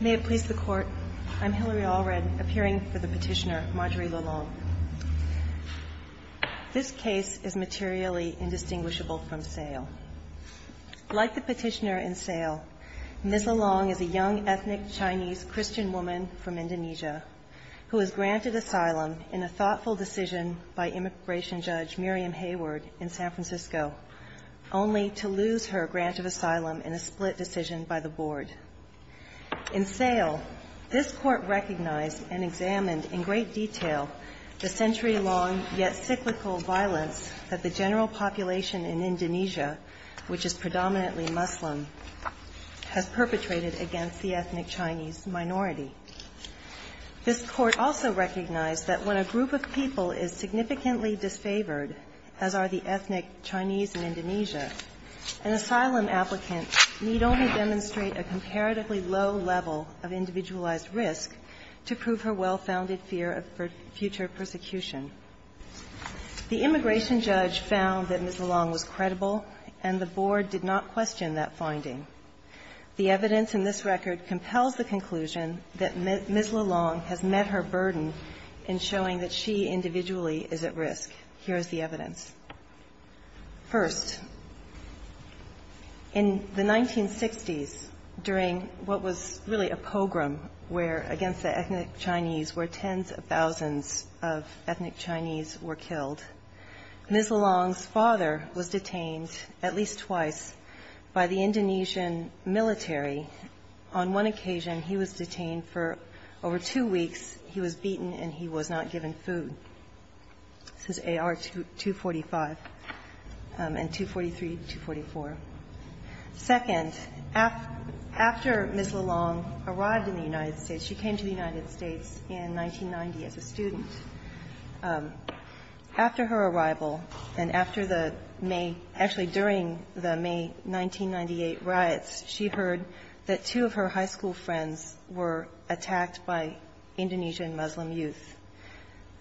May it please the Court, I'm Hillary Allred, appearing for the petitioner, Marjorie LeLong. This case is materially indistinguishable from SAIL. Like the petitioner in SAIL, Ms. LeLong is a young ethnic Chinese Christian woman from Indonesia who is granted asylum in a thoughtful decision by immigration judge Miriam Hayward in San Francisco, only to lose her grant of asylum in a split decision by the board. In SAIL, this Court recognized and examined in great detail the century-long yet cyclical violence that the general population in Indonesia, which is predominantly Muslim, has perpetrated against the ethnic Chinese minority. This Court also recognized that when a group of people is significantly disfavored, as are the ethnic Chinese in Indonesia, an asylum applicant need only demonstrate a comparatively low level of individualized risk to prove her well-founded fear of future persecution. The immigration judge found that Ms. LeLong was credible, and the board did not question that finding. The evidence in this record compels the conclusion that Ms. LeLong has met her burden in showing that she individually is at risk. Here is the evidence. First, in the 1960s, during what was really a pogrom against the ethnic Chinese, where tens of thousands of ethnic Chinese were killed, Ms. LeLong's father was detained at least twice by the Indonesian military. On one occasion, he was detained for over two weeks. He was beaten and he was not given food. This is AR-245 and 243-244. Second, after Ms. LeLong arrived in the United States, she came to the United States in 1990 as a student. After her arrival and after the May – actually, during the May 1998 riots, she heard that two of her high school friends were attacked by Indonesian Muslim youth.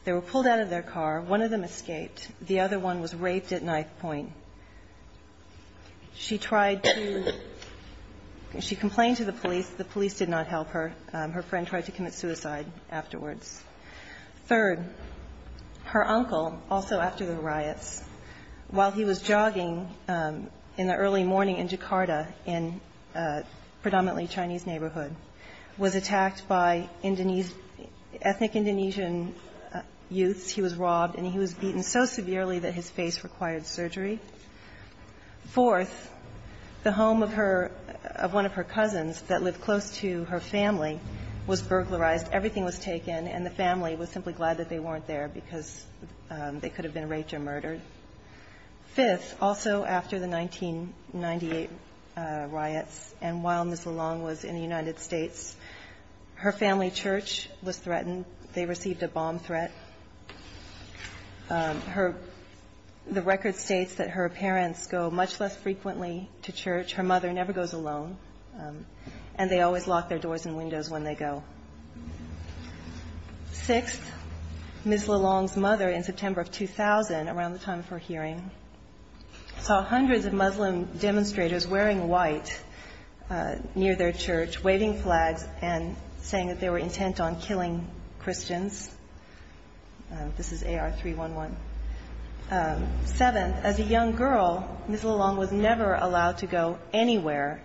They were pulled out of their car. One of them escaped. The other one was raped at ninth point. She tried to – she complained to the police. The police did not help her. Her friend tried to commit suicide afterwards. Third, her uncle, also after the riots, while he was jogging in the early morning in Jakarta in a predominantly Chinese neighborhood, was attacked by Indonesian – ethnic Indonesian youths. He was robbed and he was beaten so severely that his face required surgery. Fourth, the home of her – of one of her cousins that lived close to her family was burglarized. Everything was taken and the family was simply glad that they weren't there because they could have been raped or murdered. Fifth, also after the 1998 riots and while Ms. LeLong was in the United States, her family church was threatened. They received a bomb threat. Her – the record states that her parents go much less frequently to church. Her mother never goes alone and they always lock their doors and windows when they go. Sixth, Ms. LeLong's mother in September of 2000, around the time of her hearing, saw hundreds of Muslim demonstrators wearing white near their church, waving flags, and saying that they were intent on killing Christians. This is AR-311. Seventh, as a young girl, Ms. LeLong was never allowed to go anywhere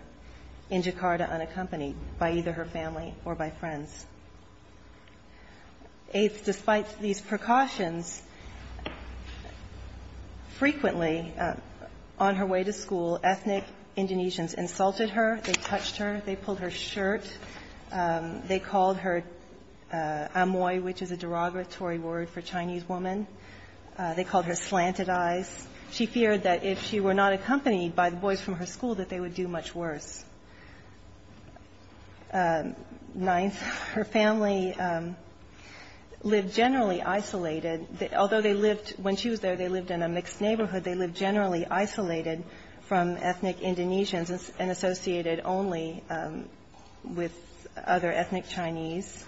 in Jakarta unaccompanied by either her family or by friends. Eighth, despite these precautions, frequently on the streets of Jakarta, there was a woman who, on her way to school, ethnic Indonesians insulted her. They touched her. They pulled her shirt. They called her amoy, which is a derogatory word for Chinese woman. They called her slanted eyes. She feared that if she were not accompanied by the boys from her school, that they would do much worse. Ninth, her family lived generally isolated, although they lived – when she was there, they lived in a mixed neighborhood. They lived generally isolated from ethnic Indonesians and associated only with other ethnic Chinese.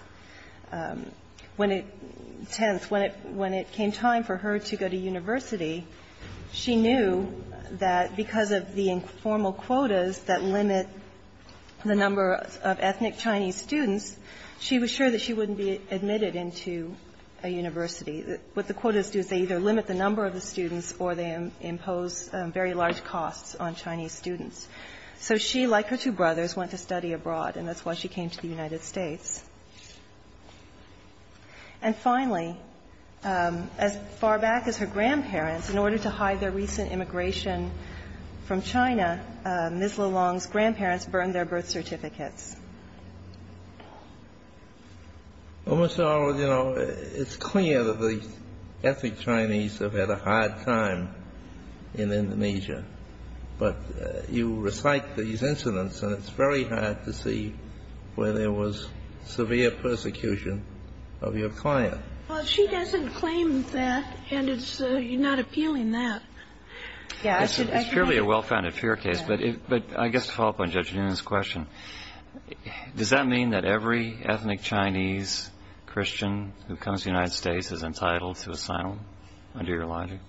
When it – tenth, when it came time for her to go to university, she knew that because of the informal quotas that limit the number of ethnic Chinese students, she was sure that she wouldn't be admitted into a university. What the quotas do is they either limit the number of the students or they impose very large costs on Chinese students. So she, like her two brothers, went to study abroad, and that's why she came to the United States. And finally, as far back as her grandparents, in order to hide their recent immigration from China, Ms. LeLong's grandparents burned their birth certificates. Well, Mr. Arnold, you know, it's clear that the ethnic Chinese have had a hard time in Indonesia. But you recite these incidents, and it's very hard to see where there was severe persecution of your client. Well, she doesn't claim that, and it's not appealing that. It's purely a well-founded fear case, but I guess to follow up on Judge Noonan's question, does that mean that every ethnic Chinese Christian who comes to the United States is entitled to asylum, under your logic?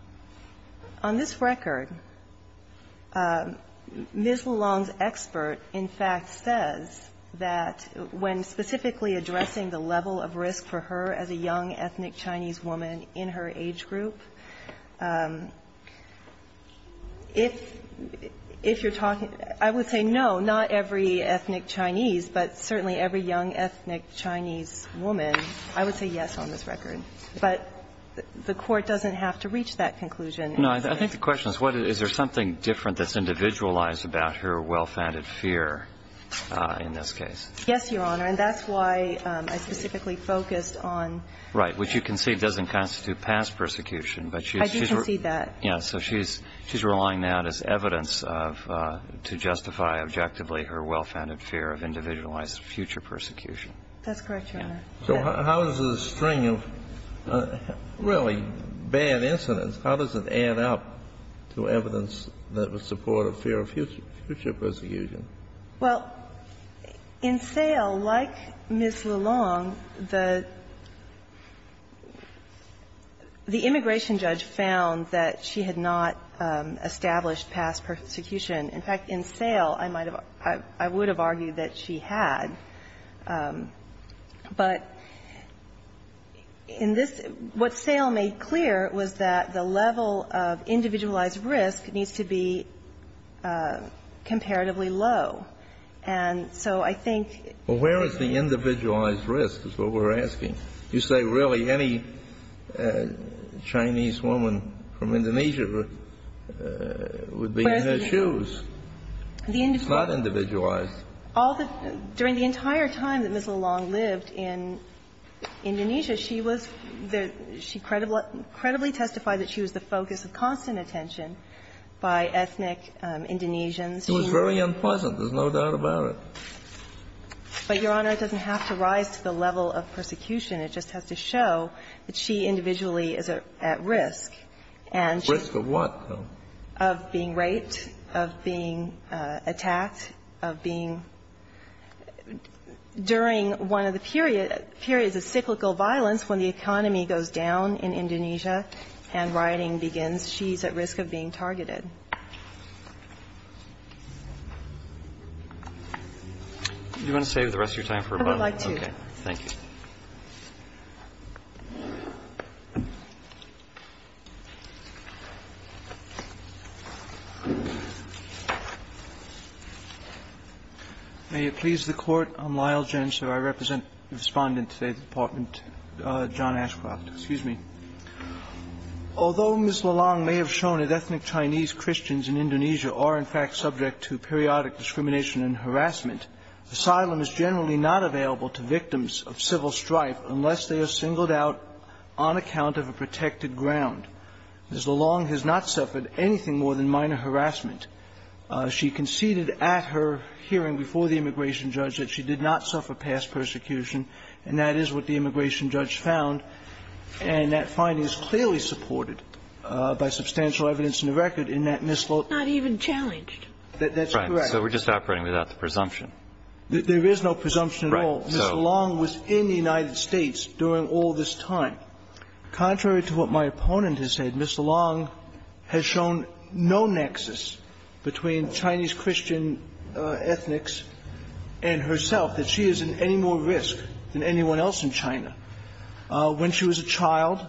On this record, Ms. LeLong's expert, in fact, says that when specifically addressing the level of risk for her as a young ethnic Chinese woman in her age group, if you're talking – I would say no, not every ethnic Chinese, but certainly every young ethnic Chinese woman, I would say yes on this record. But the Court doesn't have to reach that conclusion. No. I think the question is, is there something different that's individualized about her well-founded fear in this case? Yes, Your Honor. And that's why I specifically focused on – I do concede that. Yes. So she's relying now on this evidence of – to justify objectively her well-founded fear of individualized future persecution. That's correct, Your Honor. So how does a string of really bad incidents, how does it add up to evidence that would support a fear of future persecution? Well, in Sale, like Ms. LeLong, the immigration judge found that she had not established past persecution. In fact, in Sale, I might have – I would have argued that she had. But in this – what Sale made clear was that the level of individualized risk needs to be comparatively low. And so I think – Well, where is the individualized risk is what we're asking. You say really any Chinese woman from Indonesia would be in her shoes. It's not individualized. During the entire time that Ms. LeLong lived in Indonesia, she was – she credibly testified that she was the focus of constant attention by ethnic Indonesians. She was very unpleasant. There's no doubt about it. But, Your Honor, it doesn't have to rise to the level of persecution. It just has to show that she individually is at risk. Risk of what, though? Of being raped, of being attacked, of being – during one of the periods of cyclical violence, when the economy goes down in Indonesia and rioting begins, she's at risk of being targeted. Do you want to save the rest of your time for rebuttal? May it please the Court. I'm Lyle Jensen. I represent the Respondent today at the Department, John Ashcroft. Excuse me. Although Ms. LeLong may have shown that ethnic Chinese Christians in Indonesia is generally not available to victims of civil strife unless they are singled out on account of a protected ground, Ms. LeLong has not suffered anything more than minor harassment. She conceded at her hearing before the immigration judge that she did not suffer past persecution, and that is what the immigration judge found. And that finding is clearly supported by substantial evidence in the record in that Ms. LeLong. It's not even challenged. That's correct. So we're just operating without the presumption. There is no presumption at all. Ms. LeLong was in the United States during all this time. Contrary to what my opponent has said, Ms. LeLong has shown no nexus between Chinese Christian ethnics and herself, that she is in any more risk than anyone else in China. When she was a child,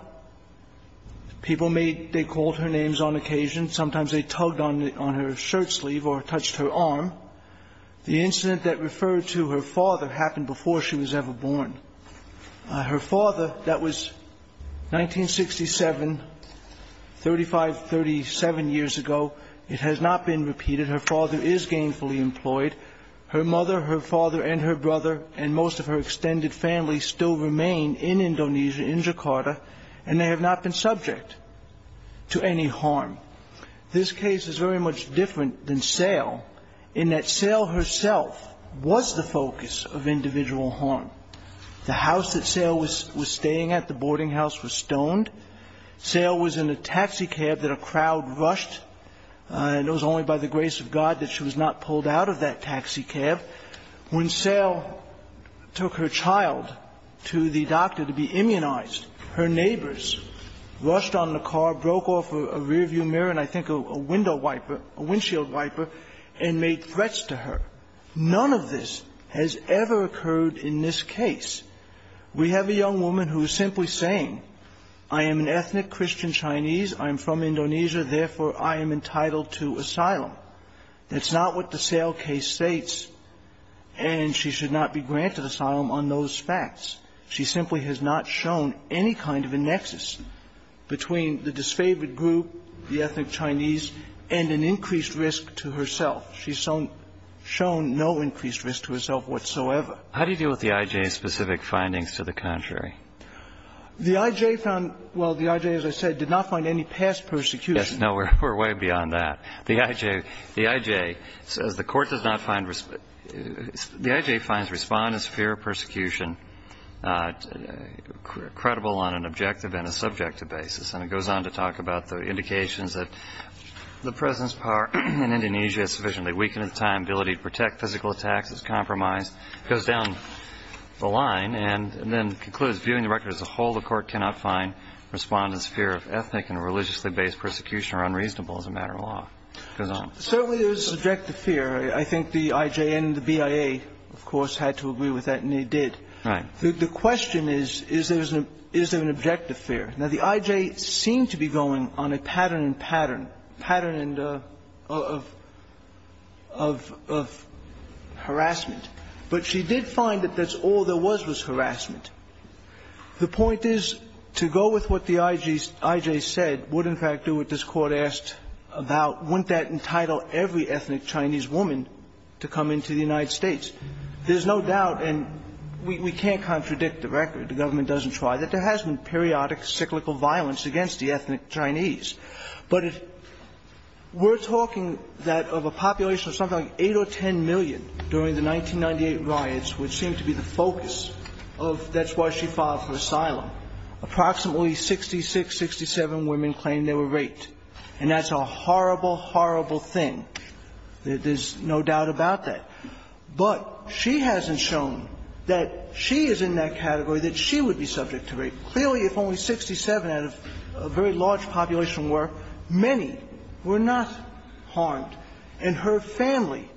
people made – they called her names on occasion. Sometimes they tugged on her shirt sleeve or touched her arm. The incident that referred to her father happened before she was ever born. Her father, that was 1967, 35, 37 years ago. It has not been repeated. Her father is gainfully employed. Her mother, her father, and her brother and most of her extended family still remain in Indonesia, in Jakarta, and they have not been subject to any harm. This case is very much different than Sale in that Sale herself was the focus of individual harm. The house that Sale was staying at, the boarding house, was stoned. Sale was in a taxi cab that a crowd rushed, and it was only by the grace of God that she was not pulled out of that taxi cab. When Sale took her child to the doctor to be immunized, her neighbors rushed on the car, broke off a rearview mirror and I think a window wiper, a windshield wiper, and made threats to her. None of this has ever occurred in this case. We have a young woman who is simply saying, I am an ethnic Christian Chinese, I am from Indonesia, therefore I am entitled to asylum. That's not what the Sale case states, and she should not be granted asylum on those facts. She simply has not shown any kind of a nexus between the disfavored group, the ethnic Chinese, and an increased risk to herself. She's shown no increased risk to herself whatsoever. How do you deal with the I.J.'s specific findings to the contrary? The I.J. found – well, the I.J., as I said, did not find any past persecution. Yes. No, we're way beyond that. The I.J. says the court does not find – the I.J. finds respondents fear of persecution credible on an objective and a subjective basis. And it goes on to talk about the indications that the President's power in Indonesia is sufficiently weakened at the time, ability to protect physical attacks is compromised. It goes down the line and then concludes viewing the record as a whole, the court cannot find respondents' fear of ethnic and religiously based persecution are unreasonable as a matter of law. It goes on. Certainly there is subjective fear. I think the I.J. and the BIA, of course, had to agree with that, and they did. Right. The question is, is there an objective fear? Now, the I.J. seemed to be going on a pattern and pattern, pattern of harassment. But she did find that that's all there was, was harassment. The point is, to go with what the I.J. said would, in fact, do what this Court asked about, wouldn't that entitle every ethnic Chinese woman to come into the United States? There's no doubt, and we can't contradict the record, the government doesn't try, that there has been periodic cyclical violence against the ethnic Chinese. But if we're talking that of a population of something like 8 or 10 million during the 1998 riots, which seemed to be the focus of that's why she filed for asylum, approximately 66, 67 women claimed they were raped. And that's a horrible, horrible thing. There's no doubt about that. But she hasn't shown that she is in that category that she would be subject to rape. Clearly, if only 67 out of a very large population were, many were not harmed. And her family,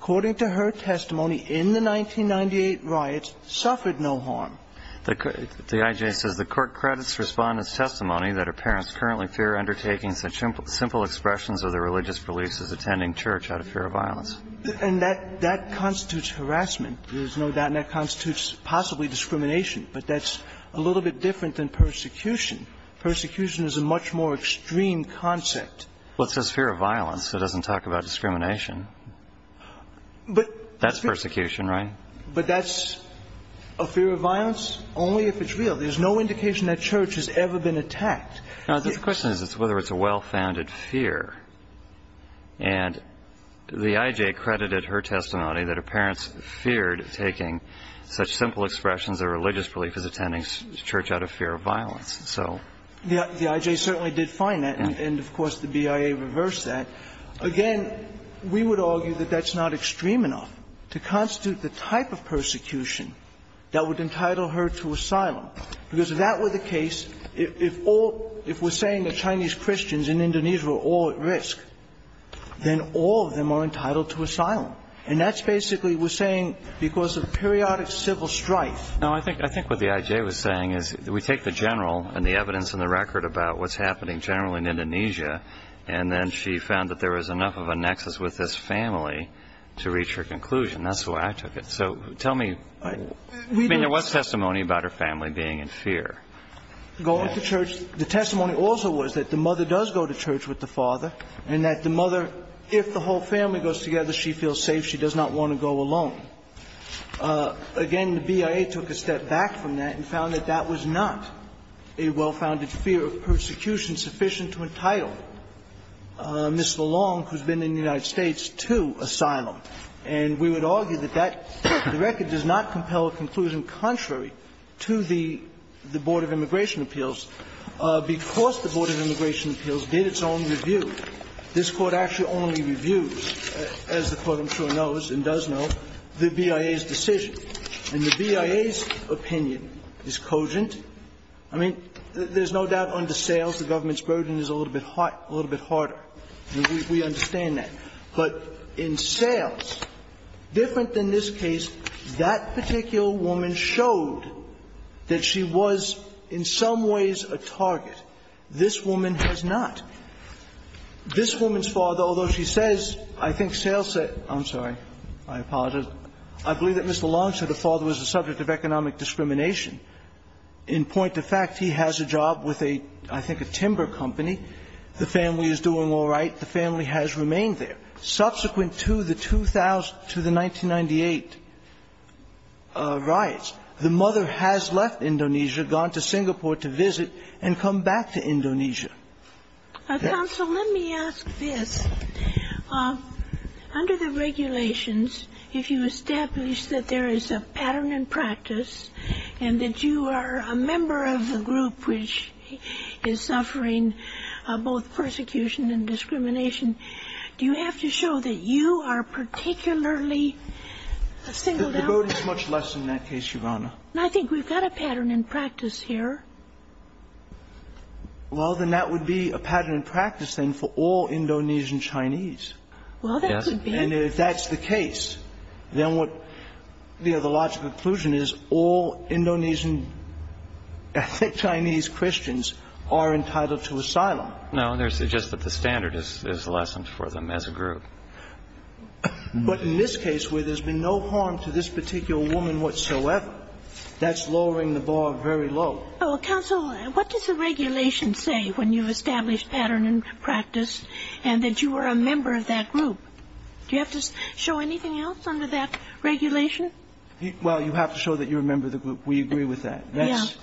according to her testimony in the 1998 riots, suffered no harm. The I.J. says the Court credits Respondent's testimony that her parents currently fear undertaking such simple expressions of their religious beliefs as attending church out of fear of violence. And that constitutes harassment. There's no doubt. And that constitutes possibly discrimination. But that's a little bit different than persecution. Persecution is a much more extreme concept. Well, it says fear of violence. It doesn't talk about discrimination. That's persecution, right? But that's a fear of violence only if it's real. There's no indication that church has ever been attacked. No, the question is whether it's a well-founded fear. And the I.J. credited her testimony that her parents feared taking such simple expressions of religious belief as attending church out of fear of violence. So the I.J. certainly did find that. And, of course, the BIA reversed that. Again, we would argue that that's not extreme enough to constitute the type of persecution that would entitle her to asylum. Because if that were the case, if all – if we're saying that Chinese Christians in Indonesia were all at risk, then all of them are entitled to asylum. And that's basically we're saying because of periodic civil strife. No, I think what the I.J. was saying is we take the general and the evidence and the record about what's happening generally in Indonesia, and then she found that there was enough of a nexus with this family to reach her conclusion. That's the way I took it. Going to church. The testimony also was that the mother does go to church with the father and that the mother, if the whole family goes together, she feels safe. She does not want to go alone. Again, the BIA took a step back from that and found that that was not a well-founded fear of persecution sufficient to entitle Ms. LeLong, who's been in the United States, to asylum. And we would argue that that – the record does not compel a conclusion contrary to the Board of Immigration Appeals. Because the Board of Immigration Appeals did its own review, this Court actually only reviews, as the Court I'm sure knows and does know, the BIA's decision. And the BIA's opinion is cogent. I mean, there's no doubt under sales the government's burden is a little bit harder. We understand that. But in sales, different than this case, that particular woman showed that she was in some ways a target. This woman has not. This woman's father, although she says, I think sales say – I'm sorry. I apologize. I believe that Ms. LeLong said her father was the subject of economic discrimination. In point of fact, he has a job with a – I think a timber company. The family is doing all right. The family has remained there. Subsequent to the 2000 – to the 1998 riots, the mother has left Indonesia, gone to Singapore to visit, and come back to Indonesia. Counsel, let me ask this. Under the regulations, if you establish that there is a pattern and practice and that you are a member of the group which is suffering both persecution and discrimination, do you have to show that you are particularly a single daughter? The burden is much less in that case, Your Honor. I think we've got a pattern and practice here. Well, then that would be a pattern and practice, then, for all Indonesian Chinese. Well, that could be. And if that's the case, then what – you know, the logical conclusion is all Indonesian – I think Chinese Christians are entitled to asylum. No, there's just that the standard is lessened for them as a group. But in this case where there's been no harm to this particular woman whatsoever, that's lowering the bar very low. Counsel, what does the regulation say when you establish pattern and practice and that you are a member of that group? Do you have to show anything else under that regulation? Well, you have to show that you're a member of the group. We agree with that. Yes.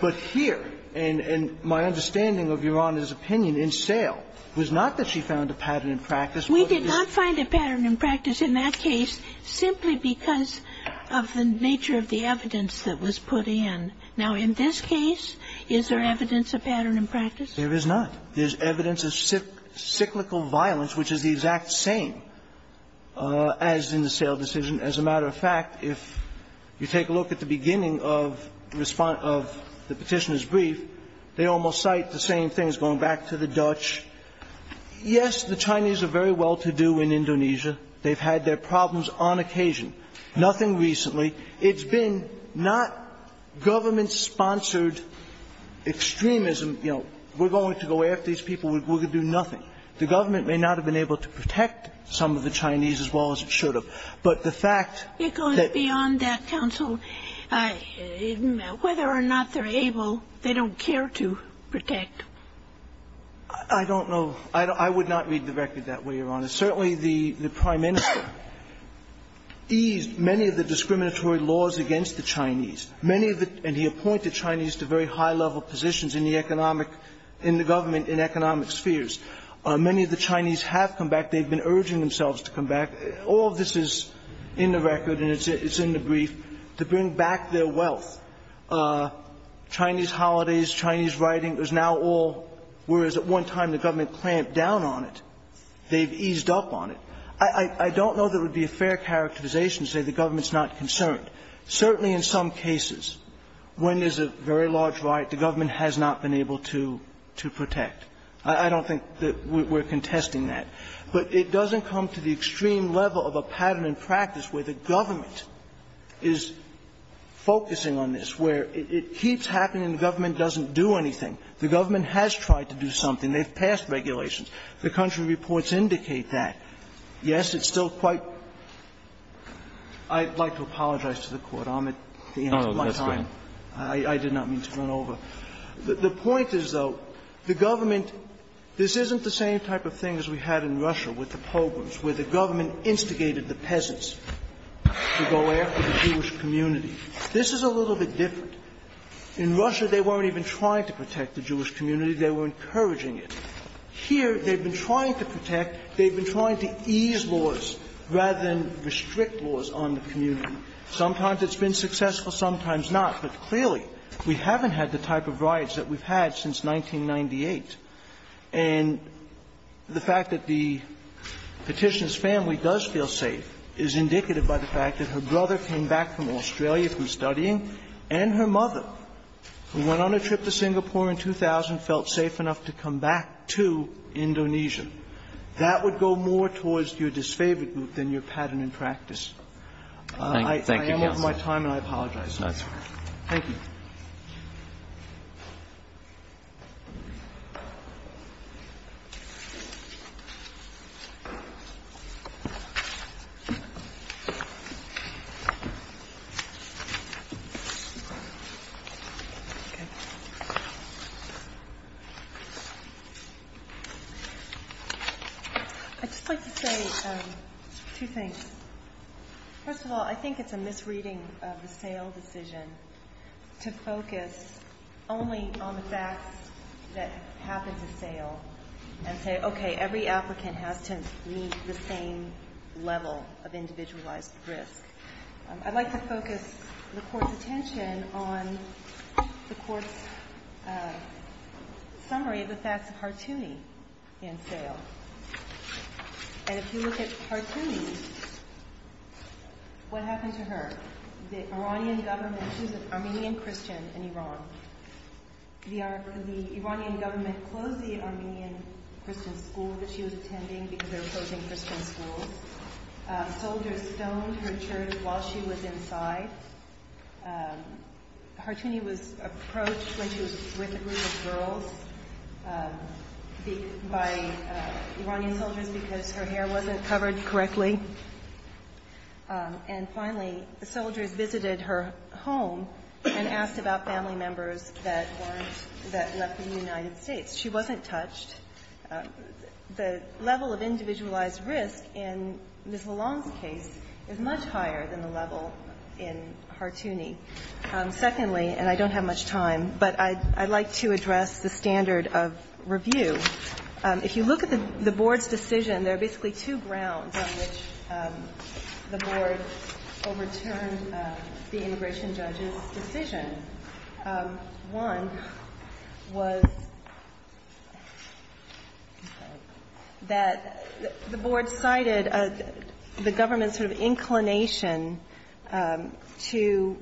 But here, and my understanding of Your Honor's opinion in Sale was not that she found a pattern and practice. We did not find a pattern and practice in that case simply because of the nature of the evidence that was put in. Now, in this case, is there evidence of pattern and practice? There is not. There's evidence of cyclical violence, which is the exact same as in the Sale decision. As a matter of fact, if you take a look at the beginning of the Petitioner's brief, they almost cite the same things going back to the Dutch. Yes, the Chinese are very well-to-do in Indonesia. They've had their problems on occasion. Nothing recently. It's been not government-sponsored extremism. You know, we're going to go after these people. We're going to do nothing. The government may not have been able to protect some of the Chinese as well as it could have been, but the fact that the Chinese were able to do so is a fact. It goes beyond that, Counsel. Whether or not they're able, they don't care to protect. I don't know. I would not read the record that way, Your Honor. Certainly the Prime Minister eased many of the discriminatory laws against the Chinese, many of the ñ and he appointed Chinese to very high-level positions in the economic ñ in the government in economic spheres. Many of the Chinese have come back. They've been urging themselves to come back. All of this is in the record, and it's in the brief, to bring back their wealth. Chinese holidays, Chinese writing, it was now all ñ whereas at one time the government clamped down on it, they've eased up on it. I don't know there would be a fair characterization to say the government's not concerned. Certainly in some cases, when there's a very large riot, the government has not been able to protect. I don't think that we're contesting that. But it doesn't come to the extreme level of a pattern in practice where the government is focusing on this, where it keeps happening and the government doesn't do anything. The government has tried to do something. They've passed regulations. The country reports indicate that. Yes, it's still quite ñ I'd like to apologize to the Court. I'm at the end of my time. I did not mean to run over. The point is, though, the government ñ this isn't the same type of thing as we had in Russia with the pogroms, where the government instigated the peasants to go after the Jewish community. This is a little bit different. In Russia, they weren't even trying to protect the Jewish community. They were encouraging it. Here, they've been trying to protect, they've been trying to ease laws rather than restrict laws on the community. Sometimes it's been successful, sometimes not. But clearly, we haven't had the type of riots that we've had since 1998. And the fact that the Petitioner's family does feel safe is indicative by the fact that her brother came back from Australia from studying, and her mother, who went on a trip to Singapore in 2000, felt safe enough to come back to Indonesia. That would go more towards your disfavored group than your pattern in practice. I am over my time, and I apologize. Roberts. Thank you. I'd just like to say two things. First of all, I think it's a misreading of the sale decision to focus only on the facts that happened to sale and say, okay, every applicant has to meet the same level of individualized risk. I'd like to focus the Court's attention on the Court's summary of the facts of And if you look at Hartouni, what happened to her? The Iranian government, she was an Armenian Christian in Iran. The Iranian government closed the Armenian Christian school that she was attending because they were closing Christian schools. Soldiers stoned her church while she was inside. Hartouni was approached when she was with a group of girls by Iranian soldiers because her hair wasn't covered correctly. And finally, the soldiers visited her home and asked about family members that left the United States. She wasn't touched. The level of individualized risk in Ms. Lalonde's case is much higher than the Secondly, and I don't have much time, but I'd like to address the standard of review. If you look at the Board's decision, there are basically two grounds on which the Board overturned the immigration judge's decision. One was that the Board cited the government's sort of inclination to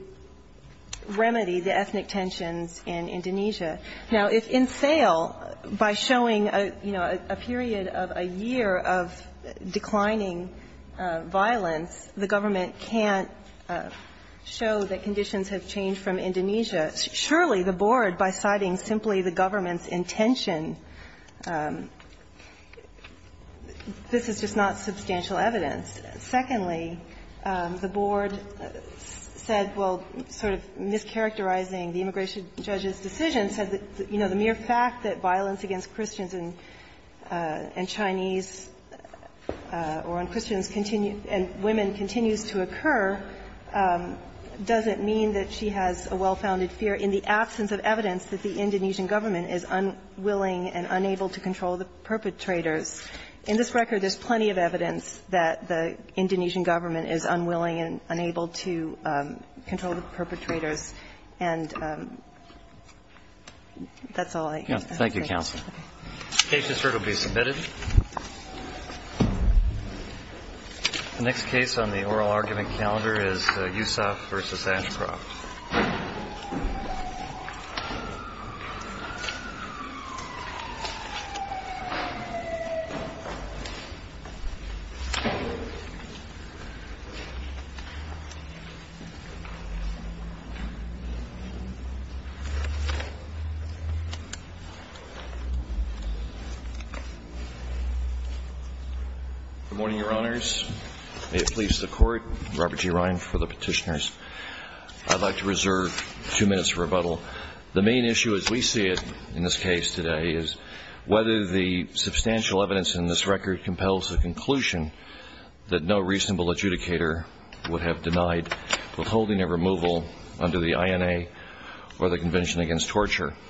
remedy the ethnic tensions in Indonesia. Now, if in sale, by showing, you know, a period of a year of declining violence, the government can't show that conditions have changed from Indonesia, surely the Board, by citing simply the government's intention, this is just not substantial evidence. Secondly, the Board said, well, sort of mischaracterizing the immigration judge's decision, said that, you know, the mere fact that violence against Christians and Chinese or on Christians continue and women continues to occur doesn't mean that she has a well-founded fear in the absence of evidence that the Indonesian government is unwilling and unable to control the perpetrators. In this record, there's plenty of evidence that the Indonesian government is unwilling and unable to control the perpetrators, and that's all I have to say. Thank you, counsel. The case has heard and will be submitted. The next case on the oral argument calendar is Yusof v. Ashcroft. Good morning, Your Honors. May it please the Court, Robert G. Ryan for the petitioners. I'd like to reserve two minutes for rebuttal. The main issue as we see it in this case today is whether the substantial evidence in this record compels a conclusion that no reasonable adjudicator would have denied withholding a removal under the INA or the Convention Against Torture.